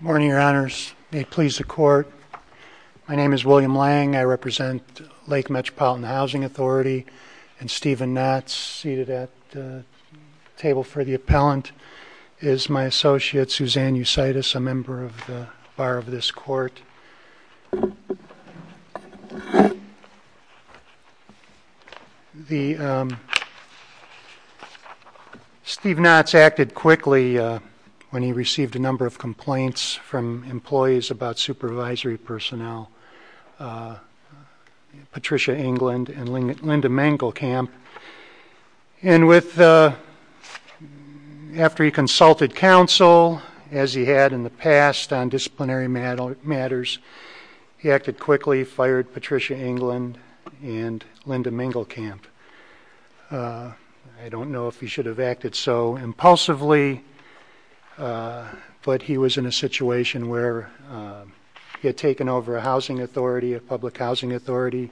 Morning, Your Honors. May it please the Court. My name is William Lang. I represent Lake Metropolitan Housing. At the table for the appellant is my associate, Suzanne Eucytus, a member of the Bar of this Court. Steve Knotts acted quickly when he received a number of complaints from employees about supervisory personnel, Patricia Englund and Linda Mengelkamp. And with the After he consulted counsel, as he had in the past on disciplinary matters, he acted quickly, fired Patricia Englund and Linda Mengelkamp. I don't know if he should have acted so impulsively, but he was in a situation where he had taken over a housing authority, a public housing authority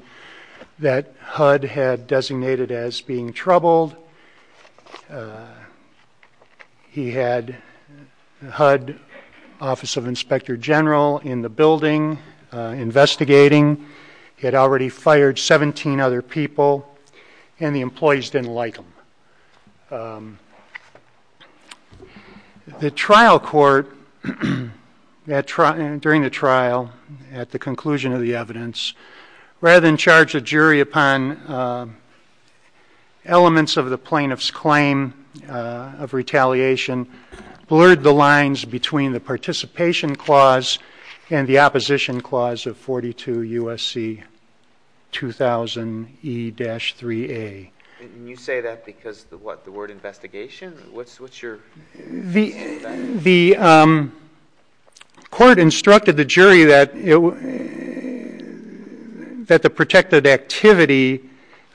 that HUD had designated as being troubled. He had HUD Office of Inspector General in the building investigating. He had already fired 17 other people and the employees didn't like him. The trial court, during the trial, at the conclusion of the evidence, rather than charge a jury upon elements of the plaintiff's claim of retaliation, blurred the lines between the participation clause and the opposition clause of 42 U.S.C. 2000 E-3A. Can you say that because of the word investigation? The court instructed the jury that the protected activity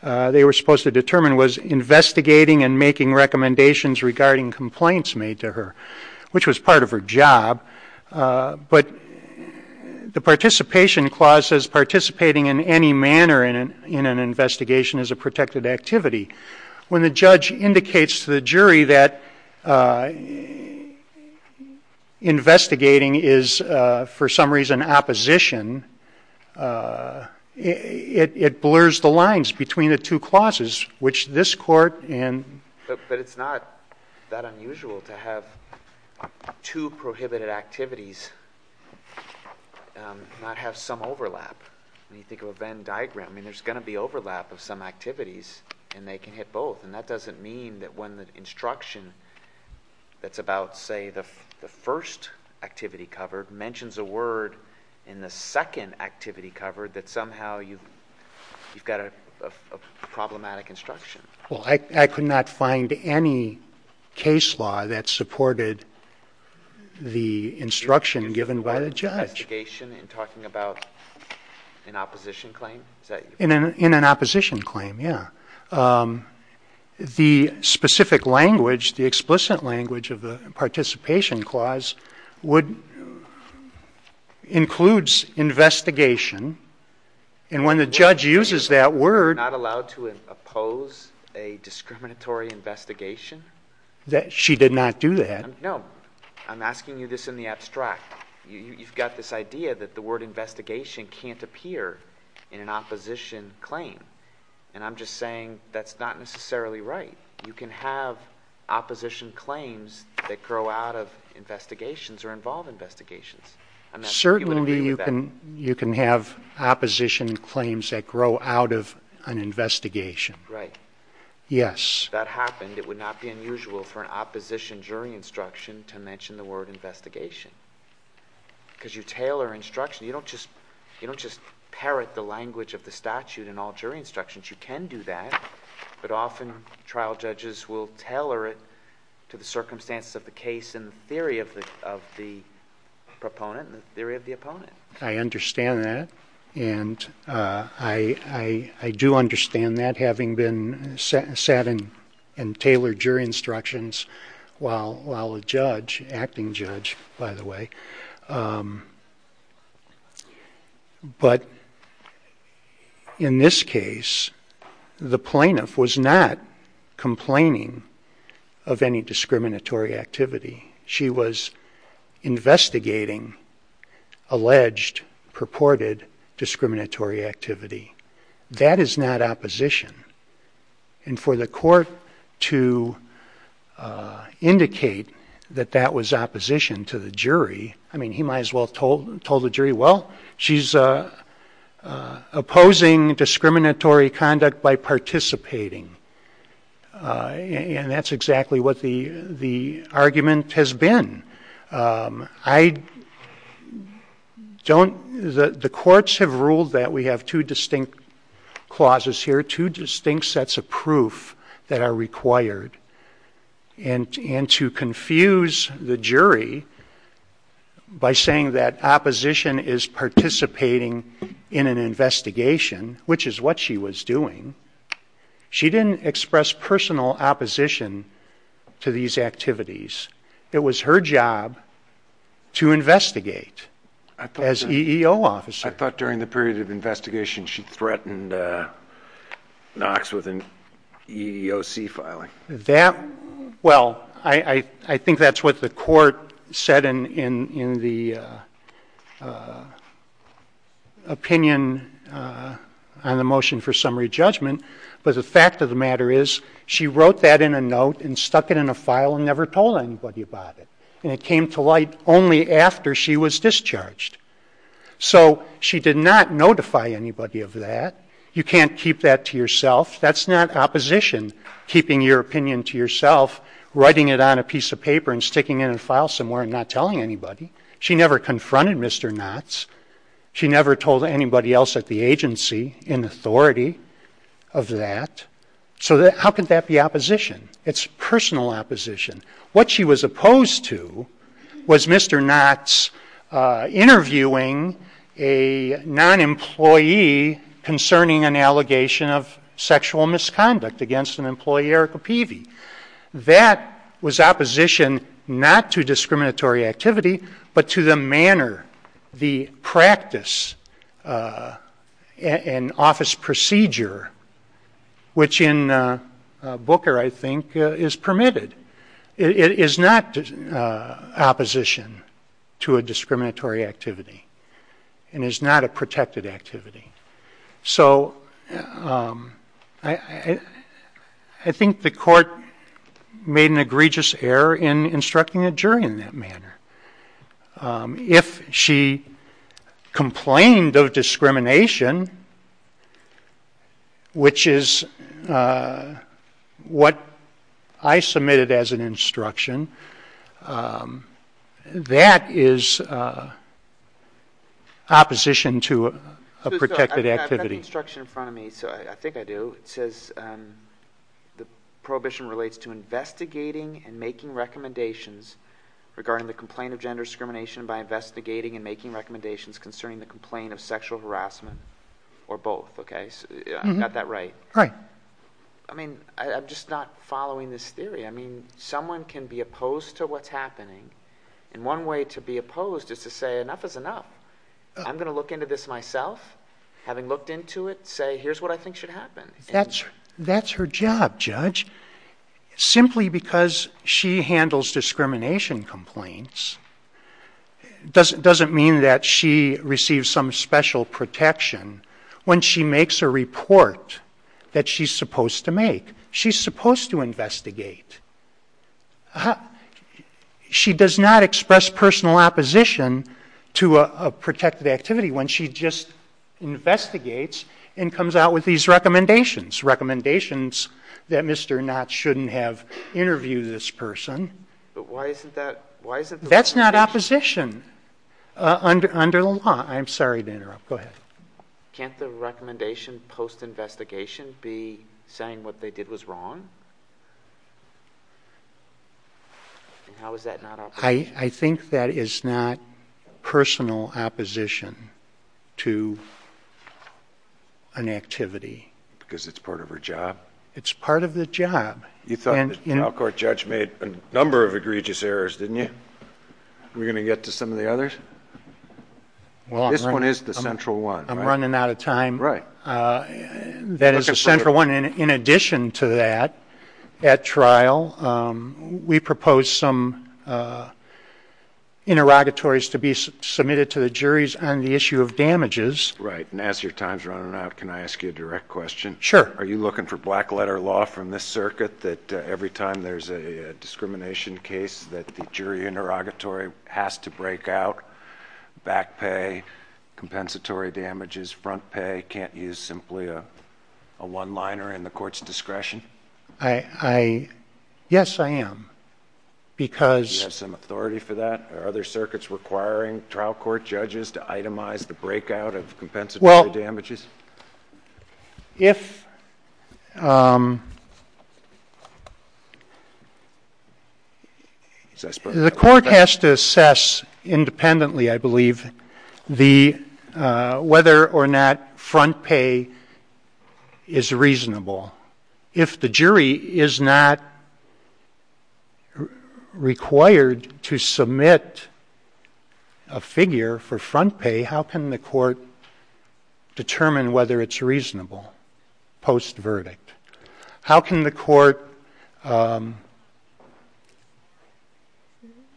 they were supposed to determine was investigating and making recommendations regarding complaints made to her, which was part of her job. But the participation clause says participating in any manner in an investigation is a protected activity. When the judge indicates to the jury that investigating is for some reason opposition, it blurs the lines between the two clauses, which this court and But it's not that unusual to have two prohibited activities not have some overlap. When you think of a Venn diagram, I mean, there's going to be overlap of some activities and they can hit both. And that doesn't mean that when the instruction that's about, say, the first activity covered mentions a word in the second activity covered that somehow you've got a problematic instruction. Well, I could not find any case law that supported the instruction given by the judge. In talking about an opposition claim? In an opposition claim, yeah. The specific language, the explicit language of the participation clause includes investigation. And when the judge uses that word... Not allowed to oppose a discriminatory investigation? She did not do that. No. I'm asking you this in the abstract. You've got this idea that the word investigation can't appear in an opposition claim. And I'm just saying that's not necessarily right. You can have opposition claims that grow out of investigations or involve investigations. Certainly you can have opposition claims that grow out of an investigation. Right. Yes. If that happened, it would not be unusual for an opposition jury instruction to mention the word investigation. Because you tailor instruction. You don't just parrot the language of the statute in all jury instructions. You can do that. But often trial judges will tailor it to the circumstances of the case and the theory of the proponent and the theory of the opponent. I understand that. And I do understand that, having been sat in and tailored jury instructions while a judge, acting judge, by the way. But in this case, the plaintiff was not complaining of any discriminatory activity. She was investigating alleged, purported discriminatory activity. That is not opposition. And for the court to indicate that that was opposition to the jury, I mean, he might as well have told the jury, well, she's opposing discriminatory conduct by participating. And that's exactly what the argument has been. I don't, the courts have ruled that we have two distinct clauses here, two distinct sets of proof that are required. And to confuse the jury by saying that opposition is participating in an investigation, which is what she was doing, she didn't express personal opposition to these activities. It was her job to investigate as EEO officer. I thought during the period of investigation she threatened Knox with an EEOC filing. That, well, I think that's what the court said in the opinion on the motion for summary judgment. But the fact of the matter is she wrote that in a note and stuck it in a file and never told anybody about it. And it came to light only after she was discharged. So she did not notify anybody of that. You can't keep that to yourself. That's not opposition, keeping your opinion to yourself, writing it on a piece of paper and sticking it in a file somewhere and not telling anybody. She never confronted Mr. Knotts. She never told anybody else at the agency in authority of that. So how could that be opposition? It's personal opposition. What she was opposed to was Mr. Knotts interviewing a non-employee concerning an allegation of sexual misconduct against an employee, Erica Peavy. That was opposition not to discriminatory activity, but to the manner, the practice and office procedure, which in Booker, I think, is permitted. It is not opposition to a discriminatory activity and is not a protected activity. So I think the court made an egregious error in instructing a jury in that manner. If she complained of discrimination, which is what I submitted as an instruction, that is opposition to a protected activity. I've got the instruction in front of me. I think I do. It says the prohibition relates to investigating and making recommendations regarding the complaint of gender discrimination by investigating and making recommendations concerning the complaint of sexual harassment or both. I got that right. Right. I'm just not following this theory. I mean, someone can be opposed to what's happening, and one way to be opposed is to say enough is enough. I'm going to look into this myself, having looked into it, say here's what I think should happen. That's her job, Judge. Simply because she handles discrimination complaints doesn't mean that she receives some special protection when she makes a report that she's supposed to make. She's supposed to investigate. She does not express personal opposition to a protected activity when she just investigates and comes out with these recommendations, recommendations that Mr. Knott shouldn't have interviewed this person. But why isn't that? That's not opposition under the law. I'm sorry to interrupt. Go ahead. Can't the recommendation post-investigation be saying what they did was wrong? And how is that not opposition? I think that is not personal opposition to an activity. Because it's part of her job? It's part of the job. You thought the trial court judge made a number of egregious errors, didn't you? Are we going to get to some of the others? This one is the central one, right? I'm running out of time. Right. That is the central one. In addition to that, at trial, we proposed some interrogatories to be submitted to the juries on the issue of damages. Right. And as your time is running out, can I ask you a direct question? Sure. Are you looking for black-letter law from this circuit that every time there's a discrimination case that the jury interrogatory has to break out, back pay, compensatory damages, front pay, can't use simply a one-liner in the court's discretion? Yes, I am. Do you have some authority for that? Are there circuits requiring trial court judges to itemize the breakout of compensatory damages? If the court has to assess independently, I believe, whether or not front pay is reasonable, if the jury is not required to submit a figure for front pay, how can the court determine whether it's reasonable post-verdict? How can the court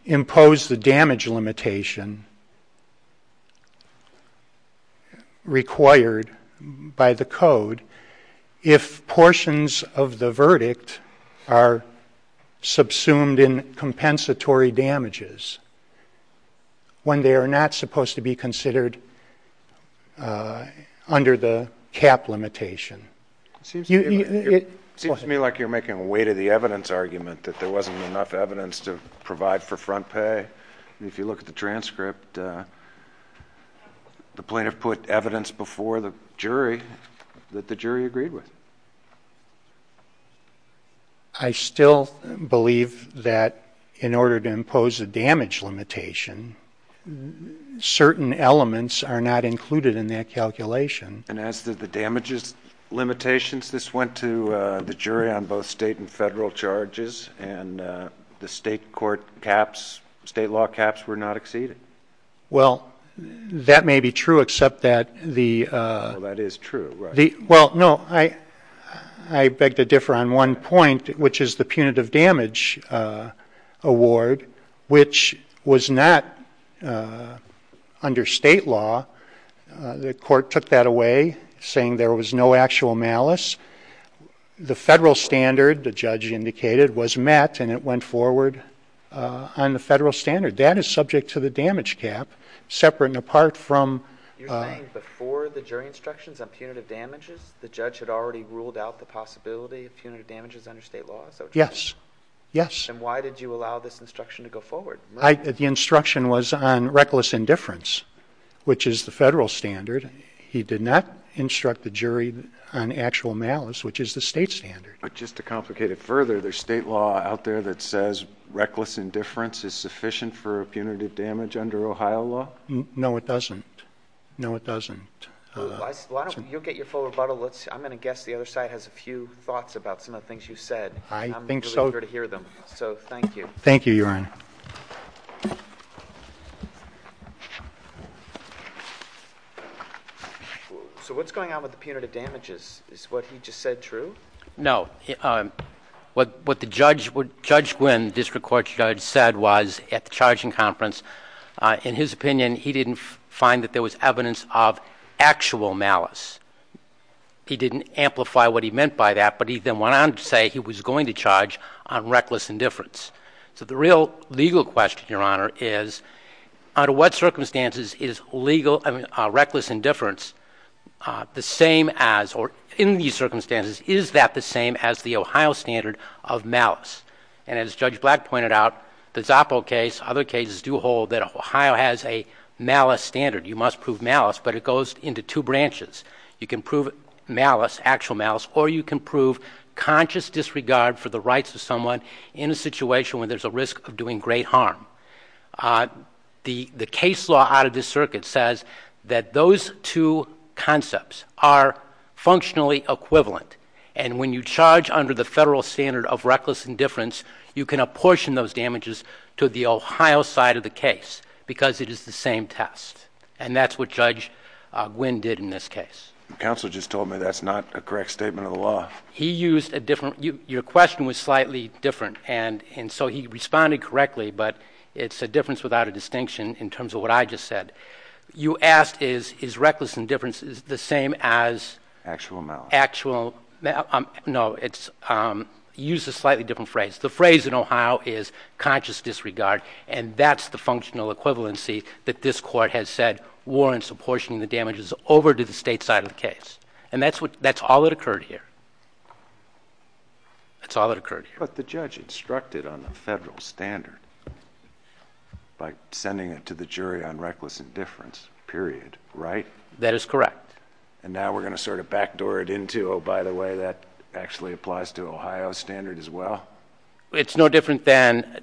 impose the damage limitation required by the code if portions of the verdict are subsumed in compensatory damages when they are not supposed to be considered under the cap limitation? It seems to me like you're making a weight of the evidence argument that there wasn't enough evidence to provide for front pay. If you look at the transcript, the plaintiff put evidence before the jury that the jury agreed with. I still believe that in order to impose a damage limitation, certain elements are not included in that calculation. And as to the damages limitations, this went to the jury on both state and federal charges, and the state court caps, state law caps were not exceeded? Well, that may be true, except that the... Well, that is true, right. saying there was no actual malice. The federal standard, the judge indicated, was met, and it went forward on the federal standard. That is subject to the damage cap, separate and apart from... You're saying before the jury instructions on punitive damages, the judge had already ruled out the possibility of punitive damages under state law? Yes, yes. Then why did you allow this instruction to go forward? The instruction was on reckless indifference, which is the federal standard. He did not instruct the jury on actual malice, which is the state standard. But just to complicate it further, there's state law out there that says reckless indifference is sufficient for punitive damage under Ohio law? No, it doesn't. No, it doesn't. You'll get your full rebuttal. I'm going to guess the other side has a few thoughts about some of the things you said. I think so. I'm eager to hear them, so thank you. Thank you, Your Honor. So what's going on with the punitive damages? Is what he just said true? What Judge Gwinn, the district court judge, said was at the charging conference, in his opinion, he didn't find that there was evidence of actual malice. He didn't amplify what he meant by that, but he then went on to say he was going to charge on reckless indifference. So the real legal question, Your Honor, is under what circumstances is reckless indifference the same as, or in these circumstances, is that the same as the Ohio standard of malice? And as Judge Black pointed out, the Zoppo case, other cases do hold that Ohio has a malice standard. You must prove malice, but it goes into two branches. You can prove malice, actual malice, or you can prove conscious disregard for the rights of someone in a situation where there's a risk of doing great harm. The case law out of this circuit says that those two concepts are functionally equivalent, and when you charge under the federal standard of reckless indifference, you can apportion those damages to the Ohio side of the case, because it is the same test. And that's what Judge Gwinn did in this case. Counselor just told me that's not a correct statement of the law. He used a different, your question was slightly different, and so he responded correctly, but it's a difference without a distinction in terms of what I just said. You asked is reckless indifference the same as actual malice. Actual, no, it's, he used a slightly different phrase. The phrase in Ohio is conscious disregard, and that's the functional equivalency that this court has said warrants apportioning the damages over to the state side of the case. And that's all that occurred here. That's all that occurred here. But the judge instructed on the federal standard by sending it to the jury on reckless indifference, period, right? That is correct. And now we're going to sort of backdoor it into, oh, by the way, that actually applies to Ohio standard as well? It's no different than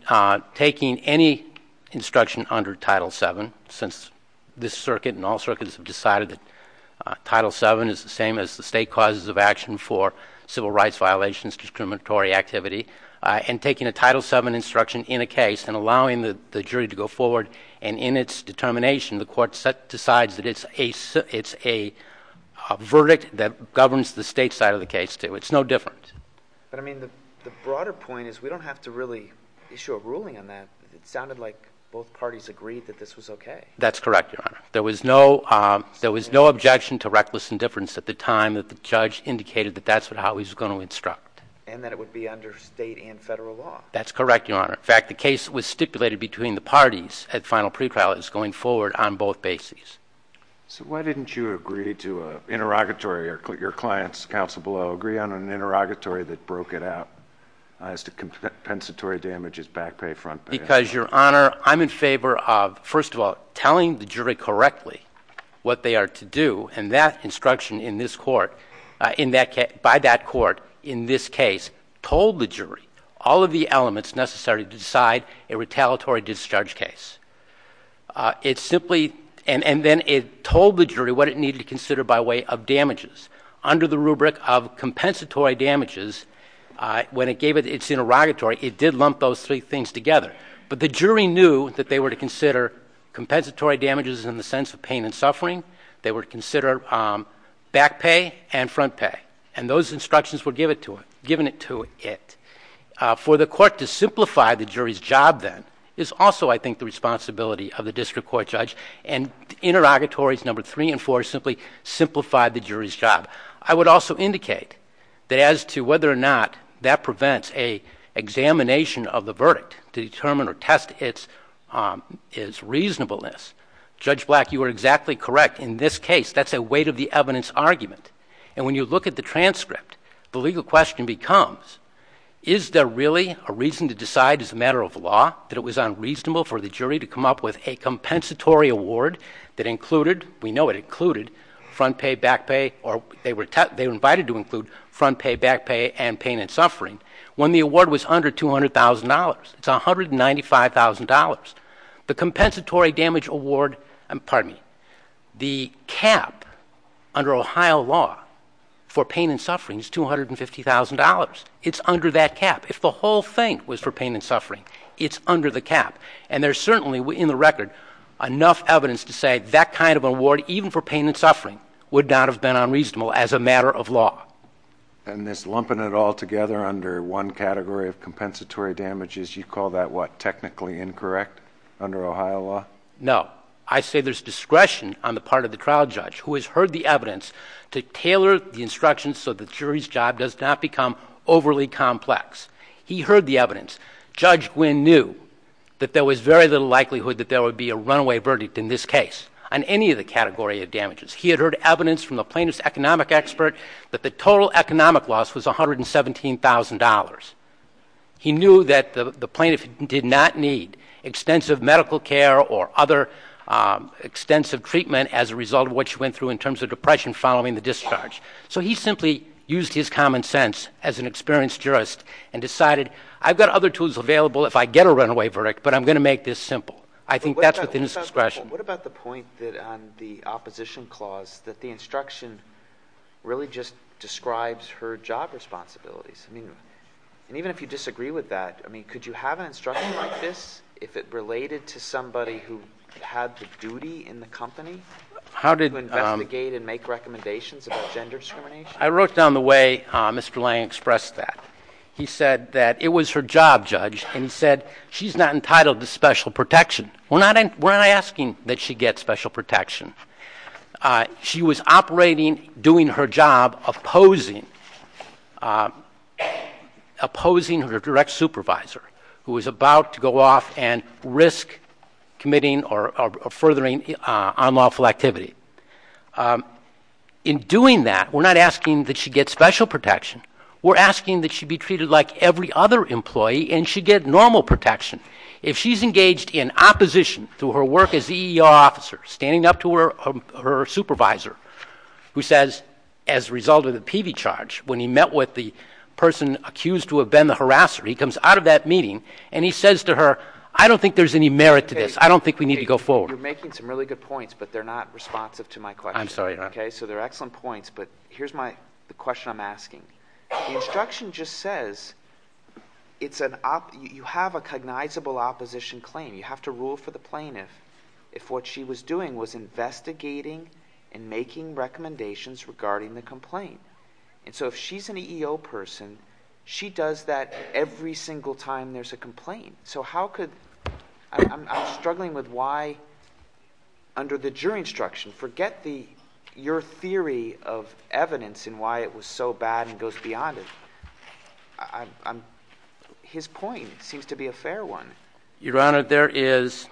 taking any instruction under Title VII, since this circuit and all circuits have decided that Title VII is the same as the state causes of action for civil rights violations, discriminatory activity, and taking a Title VII instruction in a case and allowing the jury to go forward. And in its determination, the court decides that it's a verdict that governs the state side of the case, too. It's no different. But, I mean, the broader point is we don't have to really issue a ruling on that. It sounded like both parties agreed that this was okay. That's correct, Your Honor. There was no objection to reckless indifference at the time that the judge indicated that that's how he was going to instruct. And that it would be under state and federal law. That's correct, Your Honor. In fact, the case was stipulated between the parties at final pre-trial as going forward on both bases. So why didn't you agree to an interrogatory, or your client's counsel below, agree on an interrogatory that broke it out as to compensatory damages, back pay, front pay? Because, Your Honor, I'm in favor of, first of all, telling the jury correctly what they are to do. And that instruction by that court in this case told the jury all of the elements necessary to decide a retaliatory discharge case. It simply, and then it told the jury what it needed to consider by way of damages. Under the rubric of compensatory damages, when it gave its interrogatory, it did lump those three things together. But the jury knew that they were to consider compensatory damages in the sense of pain and suffering. They were to consider back pay and front pay. And those instructions were given to it. For the court to simplify the jury's job, then, is also, I think, the responsibility of the district court judge. And interrogatories number three and four simply simplify the jury's job. I would also indicate that as to whether or not that prevents an examination of the verdict to determine or test its reasonableness. Judge Black, you are exactly correct. In this case, that's a weight of the evidence argument. And when you look at the transcript, the legal question becomes, is there really a reason to decide as a matter of law that it was unreasonable for the jury to come up with a compensatory award that included, we know it included, front pay, back pay, or they were invited to include front pay, back pay, and pain and suffering, when the award was under $200,000. It's $195,000. The compensatory damage award, pardon me, the cap under Ohio law for pain and suffering is $250,000. It's under that cap. If the whole thing was for pain and suffering, it's under the cap. And there's certainly, in the record, enough evidence to say that kind of award, even for pain and suffering, would not have been unreasonable as a matter of law. And this lumping it all together under one category of compensatory damages, you call that what, technically incorrect under Ohio law? No. I say there's discretion on the part of the trial judge who has heard the evidence to tailor the instructions so the jury's job does not become overly complex. He heard the evidence. Judge Gwinn knew that there was very little likelihood that there would be a runaway verdict in this case on any of the category of damages. He had heard evidence from the plaintiff's economic expert that the total economic loss was $117,000. He knew that the plaintiff did not need extensive medical care or other extensive treatment as a result of what she went through in terms of depression following the discharge. So he simply used his common sense as an experienced jurist and decided, I've got other tools available if I get a runaway verdict, but I'm going to make this simple. I think that's within his discretion. What about the point that on the opposition clause that the instruction really just describes her job responsibilities? I mean, and even if you disagree with that, I mean, could you have an instruction like this if it related to somebody who had the duty in the company to investigate and make recommendations about gender discrimination? I wrote down the way Mr. Lange expressed that. He said that it was her job, Judge, and he said she's not entitled to special protection. We're not asking that she get special protection. She was operating, doing her job, opposing her direct supervisor, who was about to go off and risk committing or furthering unlawful activity. In doing that, we're not asking that she get special protection. We're asking that she be treated like every other employee and she get normal protection. If she's engaged in opposition through her work as EEO officer, standing up to her supervisor, who says as a result of the PV charge, when he met with the person accused to have been the harasser, he comes out of that meeting and he says to her, I don't think there's any merit to this. I don't think we need to go forward. You're making some really good points, but they're not responsive to my question. I'm sorry, Your Honor. Okay, so they're excellent points, but here's the question I'm asking. The instruction just says you have a cognizable opposition claim. You have to rule for the plaintiff if what she was doing was investigating and making recommendations regarding the complaint. And so if she's an EEO person, she does that every single time there's a complaint. So how could – I'm struggling with why under the jury instruction, forget your theory of evidence and why it was so bad and goes beyond it. His point seems to be a fair one. Your Honor, there is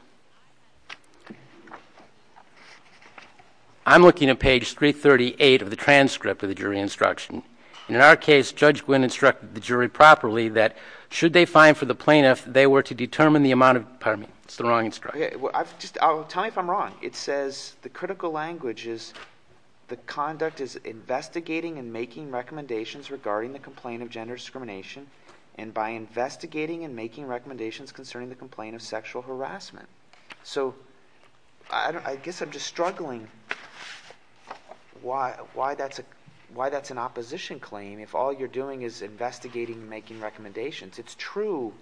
– I'm looking at page 338 of the transcript of the jury instruction. In our case, Judge Gwynne instructed the jury properly that should they fine for the plaintiff, they were to determine the amount of – pardon me, it's the wrong instruction. Just tell me if I'm wrong. It says the critical language is the conduct is investigating and making recommendations regarding the complaint of gender discrimination and by investigating and making recommendations concerning the complaint of sexual harassment. So I guess I'm just struggling why that's an opposition claim if all you're doing is investigating and making recommendations. It's true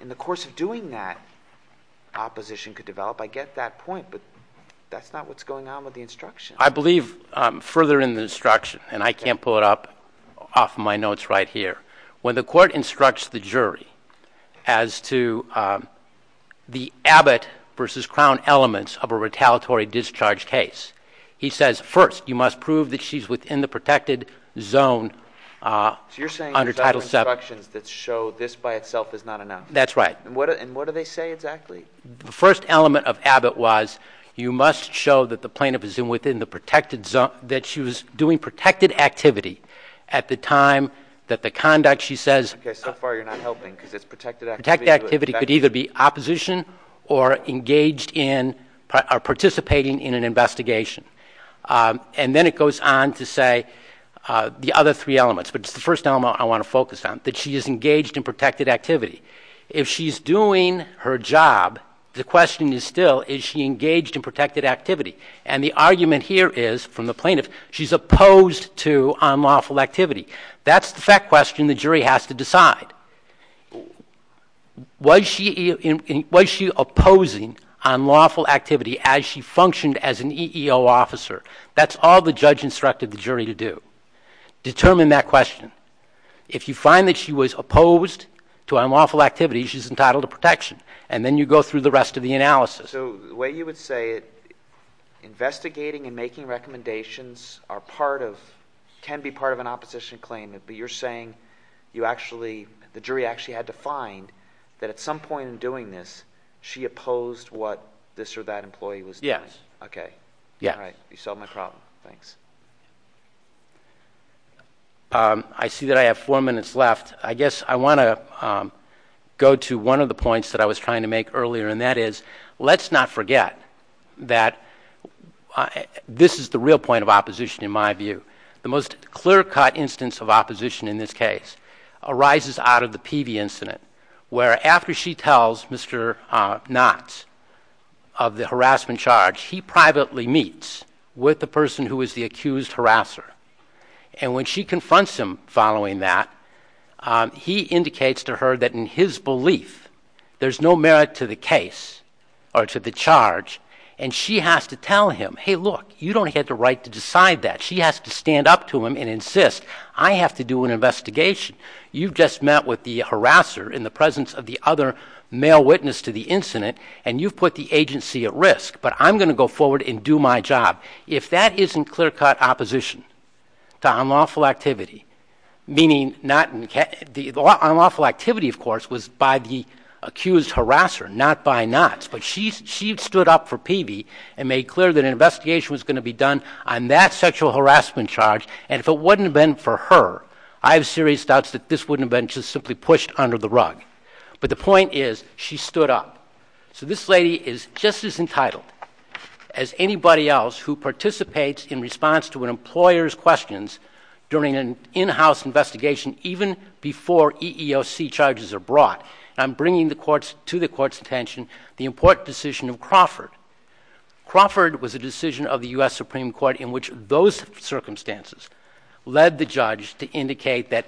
in the course of doing that, opposition could develop. I get that point, but that's not what's going on with the instruction. I believe further in the instruction, and I can't pull it up off my notes right here. When the court instructs the jury as to the Abbott versus Crown elements of a retaliatory discharge case, he says first you must prove that she's within the protected zone under Title VII. So you're saying there's other instructions that show this by itself is not enough? That's right. And what do they say exactly? The first element of Abbott was you must show that the plaintiff is within the protected zone, that she was doing protected activity at the time that the conduct, she says. Okay, so far you're not helping because it's protected activity. Protected activity could either be opposition or engaged in or participating in an investigation. And then it goes on to say the other three elements, but it's the first element I want to focus on, that she is engaged in protected activity. If she's doing her job, the question is still is she engaged in protected activity? And the argument here is, from the plaintiff, she's opposed to unlawful activity. That's the fact question the jury has to decide. Was she opposing unlawful activity as she functioned as an EEO officer? That's all the judge instructed the jury to do. Determine that question. If you find that she was opposed to unlawful activity, she's entitled to protection. And then you go through the rest of the analysis. So the way you would say it, investigating and making recommendations are part of, can be part of an opposition claim, but you're saying you actually, the jury actually had to find that at some point in doing this, she opposed what this or that employee was doing. Yes. Okay. You solved my problem. Thanks. I see that I have four minutes left. I guess I want to go to one of the points that I was trying to make earlier, and that is let's not forget that this is the real point of opposition in my view. The most clear-cut instance of opposition in this case arises out of the Peavey incident, where after she tells Mr. Knott of the harassment charge, he privately meets with the person who is the accused harasser. And when she confronts him following that, he indicates to her that in his belief, there's no merit to the case or to the charge, and she has to tell him, hey, look, you don't have the right to decide that. She has to stand up to him and insist, I have to do an investigation. You've just met with the harasser in the presence of the other male witness to the incident, and you've put the agency at risk, but I'm going to go forward and do my job. If that isn't clear-cut opposition to unlawful activity, meaning not the unlawful activity, of course, was by the accused harasser, not by Knott's, but she stood up for Peavey and made clear that an investigation was going to be done on that sexual harassment charge, and if it wouldn't have been for her, I have serious doubts that this wouldn't have been just simply pushed under the rug. But the point is, she stood up. So this lady is just as entitled as anybody else who participates in response to an employer's questions during an in-house investigation, even before EEOC charges are brought. And I'm bringing to the Court's attention the important decision of Crawford. Crawford was a decision of the U.S. Supreme Court in which those circumstances led the judge to indicate that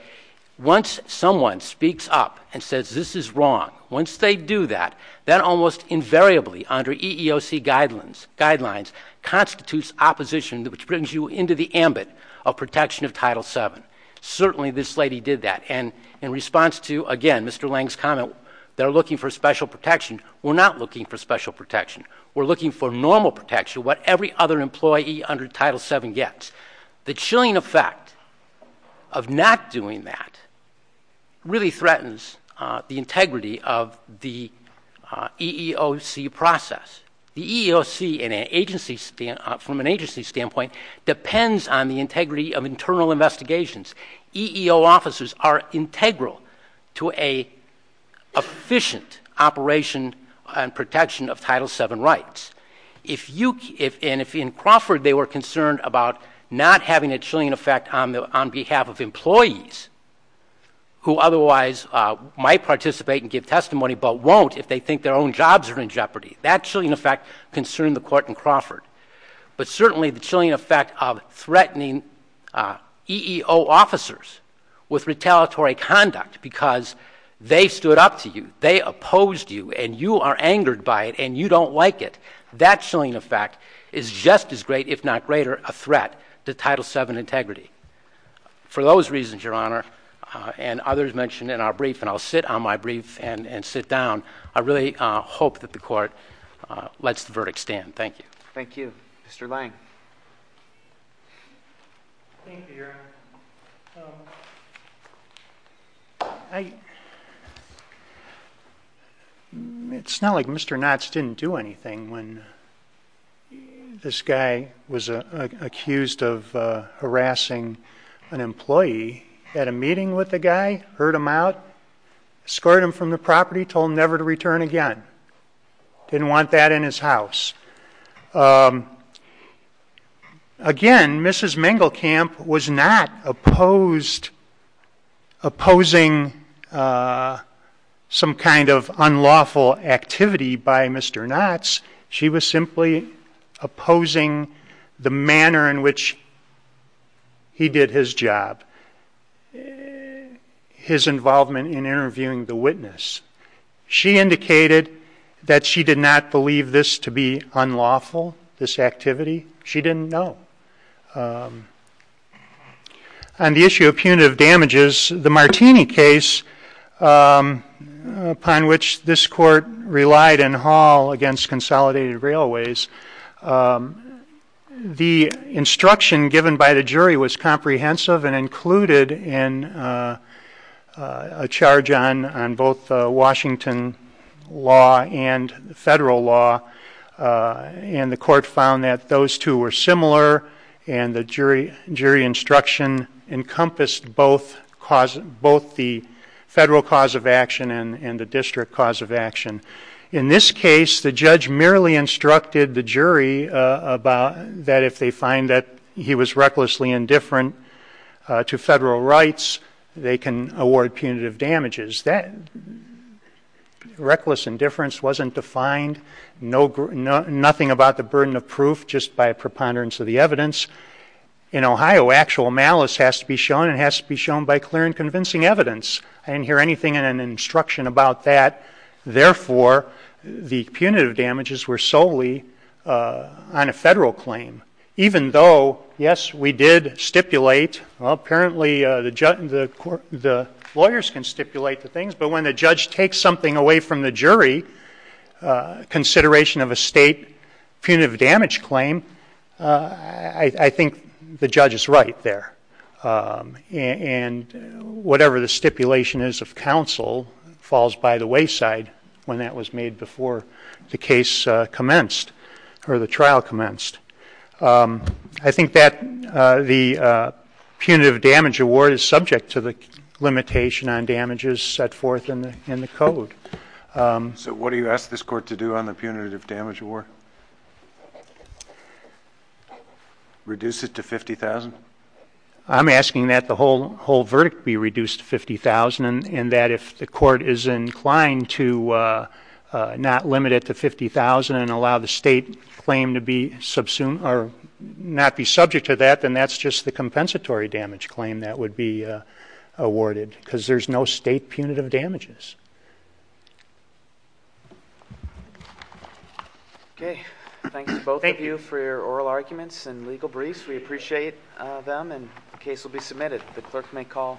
once someone speaks up and says this is wrong, once they do that, then almost invariably under EEOC guidelines constitutes opposition, which brings you into the ambit of protection of Title VII. Certainly this lady did that. And in response to, again, Mr. Lange's comment, they're looking for special protection, we're not looking for special protection. We're looking for normal protection, what every other employee under Title VII gets. The chilling effect of not doing that really threatens the integrity of the EEOC process. The EEOC, from an agency standpoint, depends on the integrity of internal investigations. EEO officers are integral to an efficient operation and protection of Title VII rights. And if in Crawford they were concerned about not having a chilling effect on behalf of employees who otherwise might participate and give testimony but won't if they think their own jobs are in jeopardy, that chilling effect concerned the Court in Crawford. But certainly the chilling effect of threatening EEO officers with retaliatory conduct because they stood up to you, they opposed you, and you are angered by it and you don't like it, that chilling effect is just as great, if not greater, a threat to Title VII integrity. For those reasons, Your Honor, and others mentioned in our brief, and I'll sit on my brief and sit down, I really hope that the Court lets the verdict stand. Thank you. Thank you. Mr. Lange. Thank you, Your Honor. It's not like Mr. Knotts didn't do anything when this guy was accused of harassing an employee. He had a meeting with the guy, heard him out, escorted him from the property, told him never to return again. Didn't want that in his house. Again, Mrs. Mengelkamp was not opposing some kind of unlawful activity by Mr. Knotts. She was simply opposing the manner in which he did his job, his involvement in interviewing the witness. She indicated that she did not believe this to be unlawful, this activity. She didn't know. On the issue of punitive damages, the Martini case, upon which this Court relied in Hall against Consolidated Railways, the instruction given by the jury was comprehensive and included a charge on both Washington law and federal law. And the Court found that those two were similar, and the jury instruction encompassed both the federal cause of action and the district cause of action. In this case, the judge merely instructed the jury that if they find that he was recklessly indifferent to federal rights, they can award punitive damages. That reckless indifference wasn't defined, nothing about the burden of proof, just by a preponderance of the evidence. In Ohio, actual malice has to be shown, and it has to be shown by clear and convincing evidence. I didn't hear anything in an instruction about that. Therefore, the punitive damages were solely on a federal claim. Even though, yes, we did stipulate, well, apparently the lawyers can stipulate the things, but when the judge takes something away from the jury, consideration of a state punitive damage claim, I think the judge is right there. And whatever the stipulation is of counsel falls by the wayside when that was made before the case commenced or the trial commenced. I think that the punitive damage award is subject to the limitation on damages set forth in the Code. So what do you ask this Court to do on the punitive damage award? Reduce it to $50,000? I'm asking that the whole verdict be reduced to $50,000, and that if the Court is inclined to not limit it to $50,000 and allow the state claim to not be subject to that, then that's just the compensatory damage claim that would be awarded, because there's no state punitive damages. Okay. Thanks to both of you for your oral arguments and legal briefs. We appreciate them, and the case will be submitted. The clerk may call.